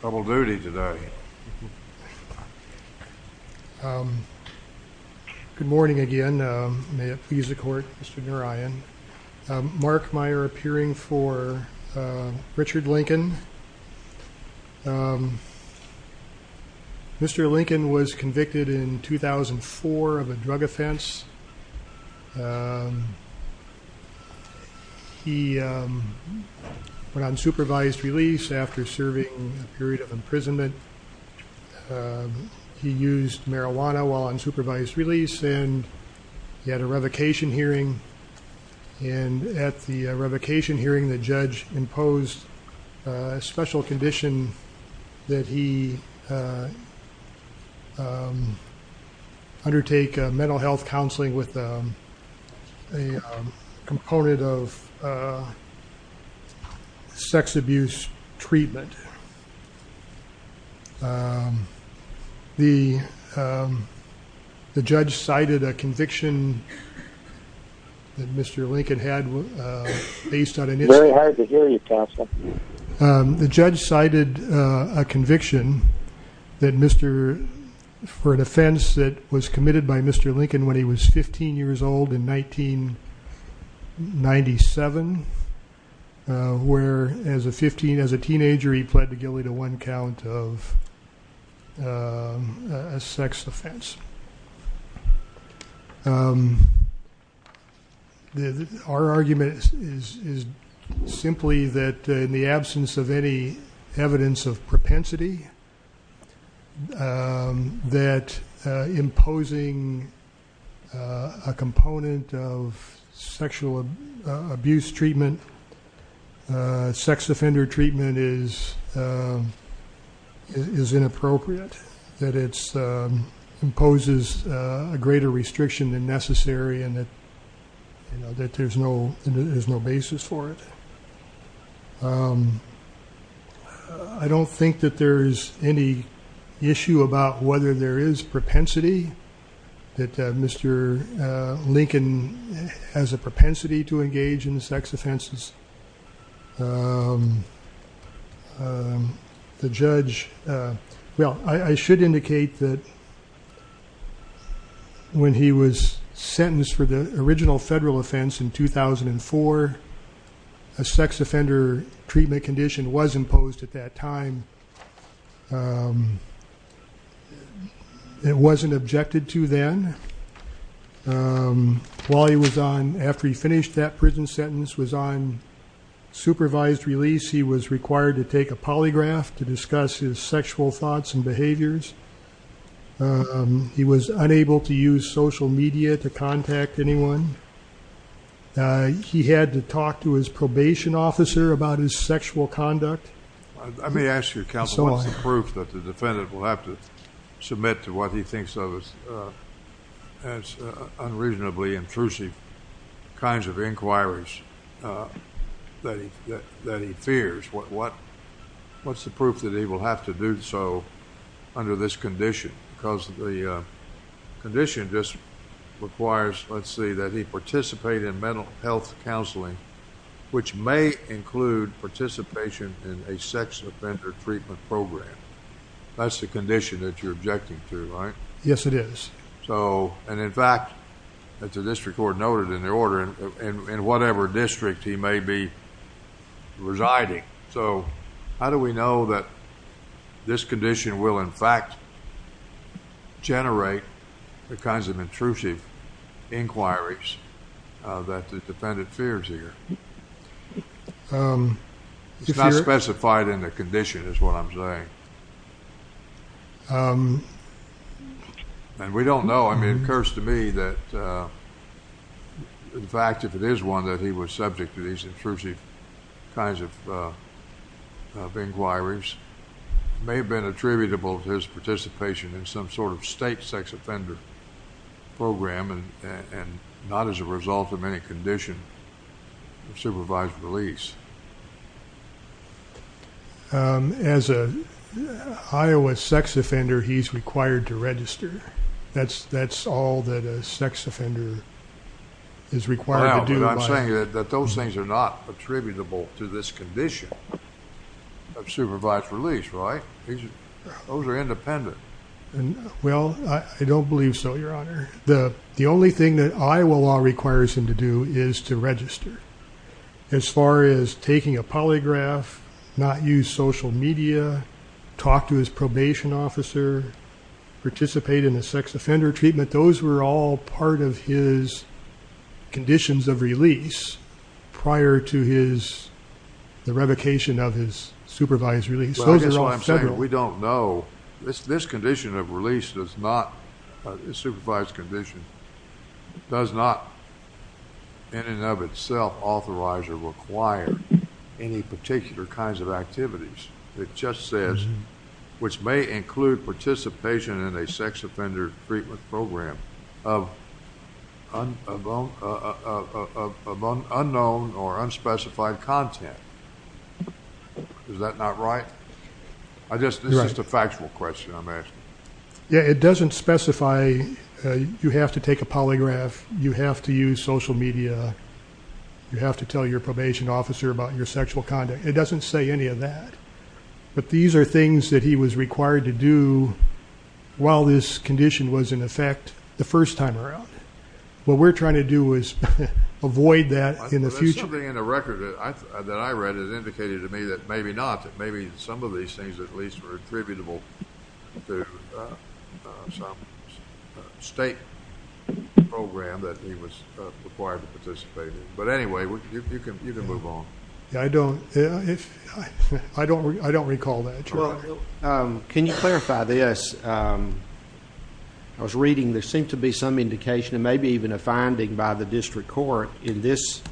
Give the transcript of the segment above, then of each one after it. Double duty today. Good morning again. May it please the court, Mr. Narayan. Mark Meyer appearing for Richard Lincoln. Mr. Lincoln was convicted in 2004 of a drug offense. He went on supervised release after serving a period of imprisonment. He used marijuana while on supervised release and he had a revocation hearing. And at the revocation hearing the judge imposed a special condition that he undertake mental health counseling with a component of sex abuse treatment. The judge cited a conviction that Mr. Lincoln had based on... It's very hard to hear you, counsel. The judge cited a conviction for an offense that was committed by Mr. Lincoln when he was 15 years old in 1997, where as a teenager he pled guilty to one count of a sex offense. Our argument is simply that in the absence of any evidence of propensity, that imposing a component of sexual abuse treatment, sex offender treatment is inappropriate, that it imposes a greater restriction than necessary and that there's no basis for it. I don't think that there's any issue about whether there is propensity, that Mr. Lincoln has a propensity to engage in sex offenses. The judge... Well, I should indicate that when he was sentenced for the original federal offense in 2004, a sex offender treatment condition was imposed at that time. It wasn't objected to then. While he was on, after he finished that prison sentence, was on supervised release, he was required to take a polygraph to discuss his sexual thoughts and behaviors. He was unable to use social media to contact anyone. He had to talk to his probation officer about his sexual conduct. I may ask you, counsel, what's the proof that the defendant will have to submit to what he thinks of as unreasonably intrusive kinds of inquiries that he fears? What's the proof that he will have to do so under this condition? Because the condition just requires, let's see, that he participate in mental health counseling, which may include participation in a sex offender treatment program. That's the condition that you're objecting to, right? Yes, it is. In fact, the district court noted in their order, in whatever district he may be residing. So how do we know that this condition will, in fact, generate the kinds of intrusive inquiries that the defendant fears here? It's not specified in the condition is what I'm saying. And we don't know. I mean, it occurs to me that, in fact, if it is one that he was subject to these intrusive kinds of inquiries, it may have been attributable to his participation in some sort of state sex offender program and not as a result of any condition of supervised release. As an Iowa sex offender, he's required to register. That's all that a sex offender is required to do. But I'm saying that those things are not attributable to this condition of supervised release, right? Those are independent. Well, I don't believe so, Your Honor. The only thing that Iowa law requires him to do is to register. As far as taking a polygraph, not use social media, talk to his probation officer, participate in a sex offender treatment, those were all part of his conditions of release prior to the revocation of his supervised release. Well, I guess what I'm saying, we don't know. This condition of release does not, this supervised condition, does not in and of itself authorize or require any particular kinds of activities. It just says, which may include participation in a sex offender treatment program of unknown or unspecified content. Is that not right? This is just a factual question I'm asking. Yeah, it doesn't specify you have to take a polygraph, you have to use social media, you have to tell your probation officer about your sexual conduct. It doesn't say any of that. But these are things that he was required to do while this condition was in effect the first time around. What we're trying to do is avoid that in the future. There's something in the record that I read that indicated to me that maybe not, that maybe some of these things at least were attributable to some state program that he was required to participate in. But anyway, you can move on. I don't recall that. Can you clarify this? I was reading there seemed to be some indication, and maybe even a finding by the district court in this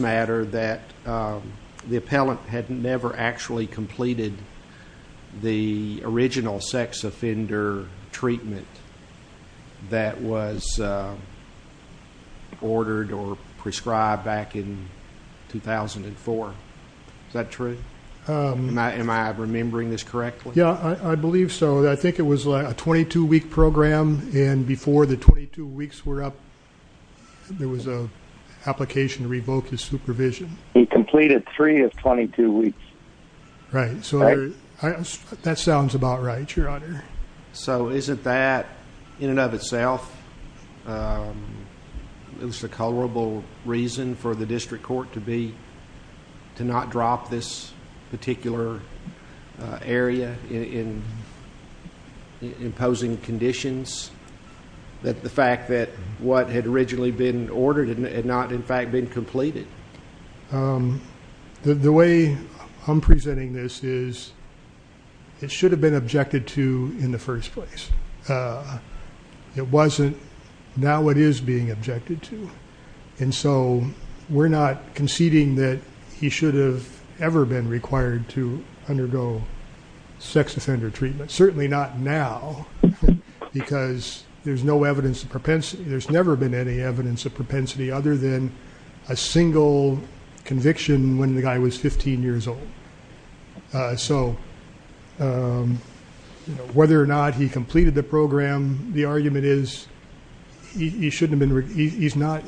matter, that the appellant had never actually completed the original sex offender treatment that was ordered or prescribed back in 2004. Is that true? Am I remembering this correctly? Yeah, I believe so. I think it was a 22-week program, and before the 22 weeks were up, there was an application to revoke his supervision. He completed three of 22 weeks. Right, so that sounds about right, Your Honor. Isn't that, in and of itself, it was a culpable reason for the district court to not drop this particular area in imposing conditions, that the fact that what had originally been ordered had not, in fact, been completed? The way I'm presenting this is it should have been objected to in the first place. It wasn't. Now it is being objected to. And so we're not conceding that he should have ever been required to undergo sex offender treatment, certainly not now, because there's no evidence of propensity. There's never been any evidence of propensity other than a single conviction when the guy was 15 years old. So whether or not he completed the program, the argument is it's not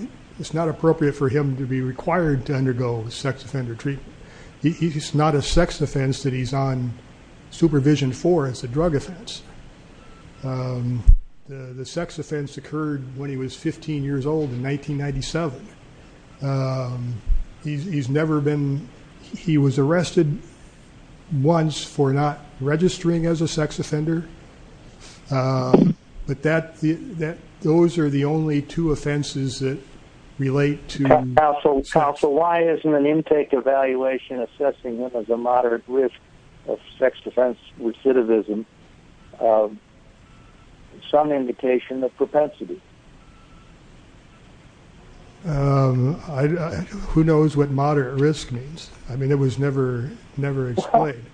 appropriate for him to be required to undergo sex offender treatment. It's not a sex offense that he's on supervision for. It's a drug offense. The sex offense occurred when he was 15 years old in 1997. He was arrested once for not registering as a sex offender. But those are the only two offenses that relate to sex. Counsel, why isn't an intake evaluation assessing him as a moderate risk of sex defense recidivism some indication of propensity? Who knows what moderate risk means? I mean, it was never explained.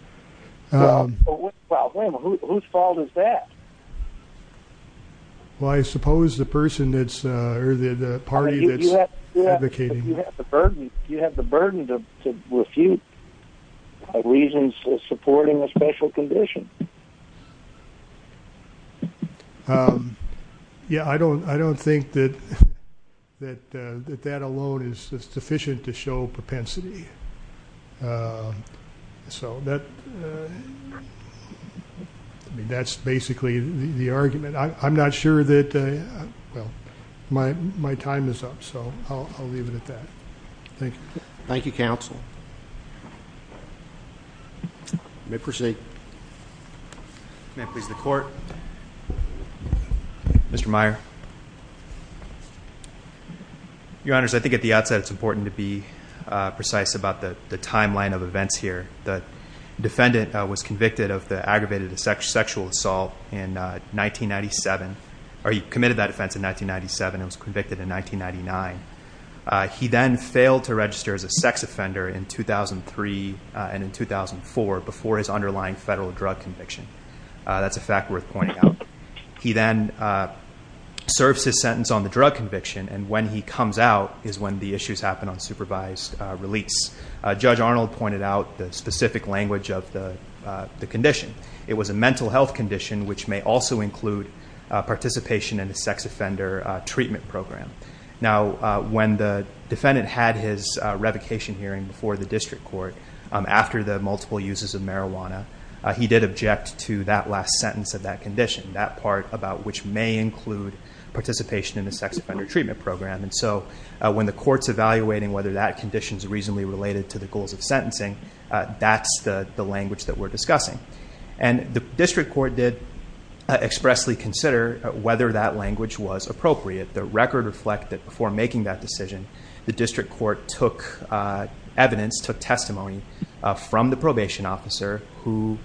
Well, wait a minute. Whose fault is that? Well, I suppose the person that's or the party that's advocating. You have the burden to refute reasons supporting a special condition. Yeah, I don't think that that alone is sufficient to show propensity. So that's basically the argument. I'm not sure that my time is up, so I'll leave it at that. Thank you. Thank you, Counsel. You may proceed. May I please have the Court? Mr. Meyer. Your Honors, I think at the outset it's important to be precise about the timeline of events here. The defendant was convicted of the aggravated sexual assault in 1997, or he committed that offense in 1997 and was convicted in 1999. He then failed to register as a sex offender in 2003 and in 2004 before his underlying federal drug conviction. That's a fact worth pointing out. He then serves his sentence on the drug conviction, and when he comes out is when the issues happen on supervised release. Judge Arnold pointed out the specific language of the condition. It was a mental health condition, which may also include participation in a sex offender treatment program. Now, when the defendant had his revocation hearing before the district court, after the multiple uses of marijuana, he did object to that last sentence of that condition, that part about which may include participation in a sex offender treatment program. When the court's evaluating whether that condition is reasonably related to the goals of sentencing, that's the language that we're discussing. The district court did expressly consider whether that language was appropriate. The record reflected that before making that decision, the district court took evidence, took testimony, from the probation officer who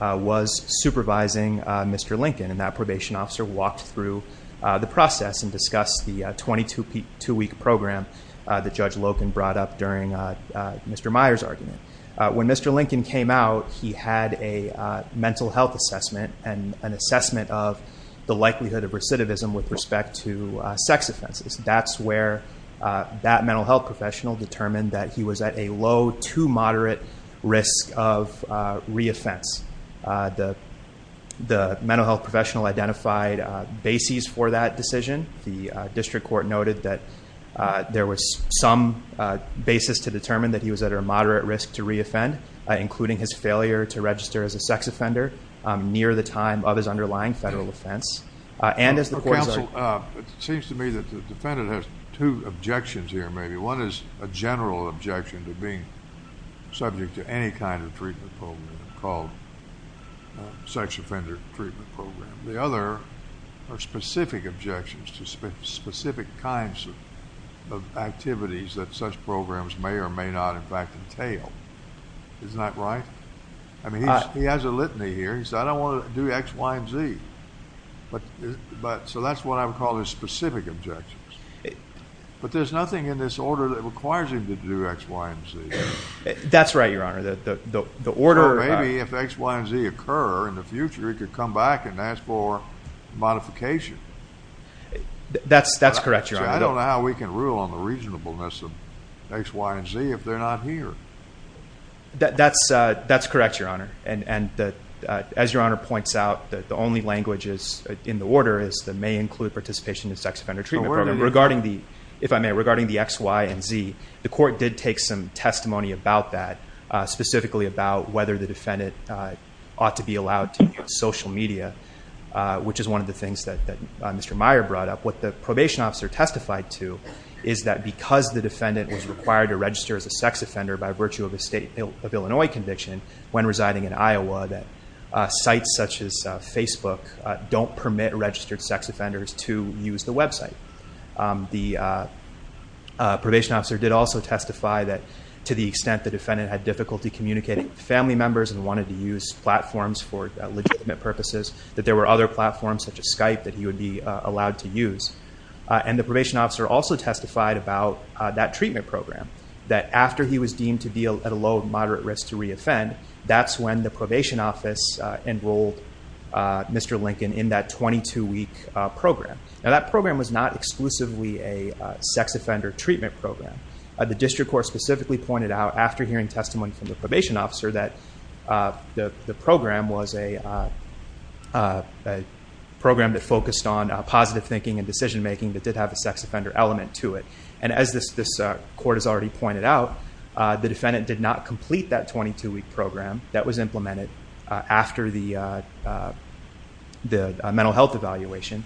was supervising Mr. Lincoln. That probation officer walked through the process and discussed the 22-week program that Judge Loken brought up during Mr. Meyer's argument. When Mr. Lincoln came out, he had a mental health assessment and an assessment of the likelihood of recidivism with respect to sex offenses. That's where that mental health professional determined that he was at a low to moderate risk of reoffense. The mental health professional identified bases for that decision. The district court noted that there was some basis to determine that he was at a moderate risk to reoffend, including his failure to register as a sex offender near the time of his underlying federal offense. Counsel, it seems to me that the defendant has two objections here, maybe. One is a general objection to being subject to any kind of treatment program called sex offender treatment program. The other are specific objections to specific kinds of activities that such programs may or may not, in fact, entail. Isn't that right? I mean, he has a litany here. He said, I don't want to do X, Y, and Z. So that's what I would call his specific objections. But there's nothing in this order that requires him to do X, Y, and Z. That's right, Your Honor. Or maybe if X, Y, and Z occur in the future, he could come back and ask for modification. That's correct, Your Honor. I don't know how we can rule on the reasonableness of X, Y, and Z if they're not here. That's correct, Your Honor. As Your Honor points out, the only language in the order is that it may include participation in sex offender treatment program. If I may, regarding the X, Y, and Z, the court did take some testimony about that, specifically about whether the defendant ought to be allowed to use social media, which is one of the things that Mr. Meyer brought up. What the probation officer testified to is that because the defendant was required to register as a sex offender by virtue of a state of Illinois conviction when residing in Iowa, that sites such as Facebook don't permit registered sex offenders to use the website. The probation officer did also testify that to the extent the defendant had difficulty communicating with family members and wanted to use platforms for legitimate purposes, that there were other platforms such as Skype that he would be allowed to use. And the probation officer also testified about that treatment program, that after he was deemed to be at a low or moderate risk to re-offend, that's when the probation office enrolled Mr. Lincoln in that 22-week program. Now, that program was not exclusively a sex offender treatment program. The district court specifically pointed out after hearing testimony from the probation officer that the program was a program that focused on positive thinking and decision making that did have a sex offender element to it. And as this court has already pointed out, the defendant did not complete that 22-week program that was implemented after the mental health evaluation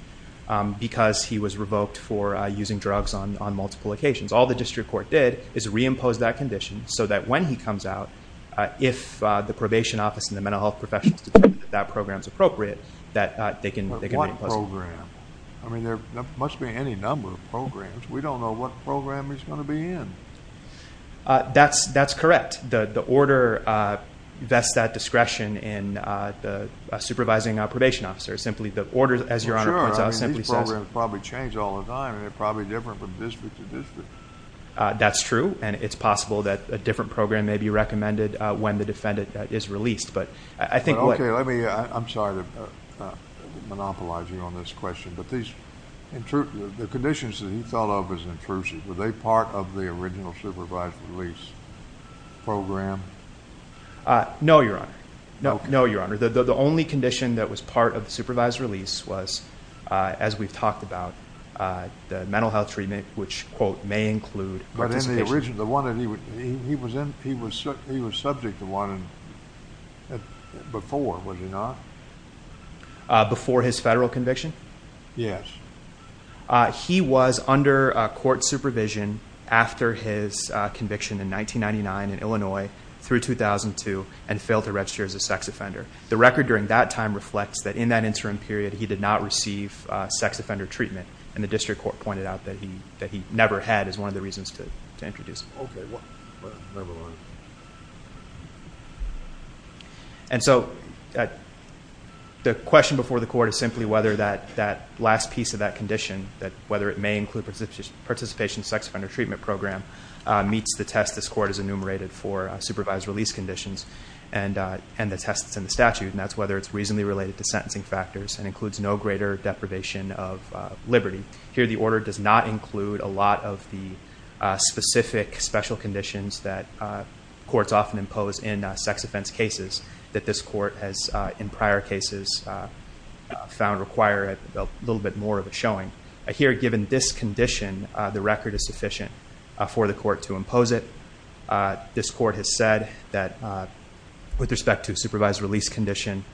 because he was revoked for using drugs on multiple occasions. All the district court did is re-impose that condition so that when he comes out, if the probation office and the mental health professionals determine that that program is appropriate, that they can re-impose it. I mean, there must be any number of programs. We don't know what program he's going to be in. That's correct. The order vests that discretion in the supervising probation officer. The order, as Your Honor points out, simply says... Well, sure. I mean, these programs probably change all the time, and they're probably different from district to district. That's true, and it's possible that a different program may be recommended when the defendant is released. Okay, I'm sorry to monopolize you on this question, but the conditions that he thought of as intrusive, were they part of the original supervised release program? No, Your Honor. No, Your Honor. The only condition that was part of the supervised release was, as we've talked about, the mental health treatment, which, quote, may include participation. He was subject to one before, was he not? Before his federal conviction? Yes. He was under court supervision after his conviction in 1999 in Illinois through 2002 and failed to register as a sex offender. The record during that time reflects that in that interim period, he did not receive sex offender treatment, and the district court pointed out that he never had as one of the reasons to introduce it. Okay, well, never mind. And so the question before the court is simply whether that last piece of that condition, whether it may include participation in the sex offender treatment program, meets the test this court has enumerated for supervised release conditions and the test that's in the statute, and that's whether it's reasonably related to sentencing factors and includes no greater deprivation of liberty. Here, the order does not include a lot of the specific special conditions that courts often impose in sex offense cases that this court has in prior cases found require a little bit more of a showing. Here, given this condition, the record is sufficient for the court to impose it. This court has said that with respect to a supervised release condition,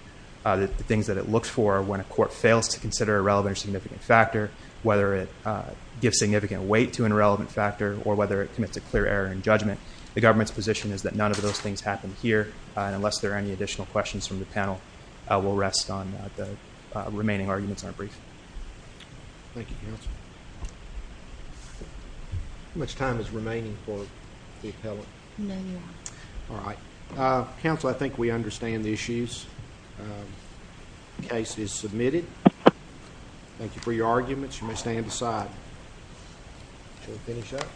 the things that it looks for when a court fails to consider a relevant or significant factor, whether it gives significant weight to an irrelevant factor or whether it commits a clear error in judgment, the government's position is that none of those things happen here, and unless there are any additional questions from the panel, we'll rest on the remaining arguments aren't brief. Thank you, counsel. How much time is remaining for the appellant? Nine and a half. All right. Counsel, I think we understand the issues. The case is submitted. Thank you for your arguments. You may stand aside. Shall we finish up?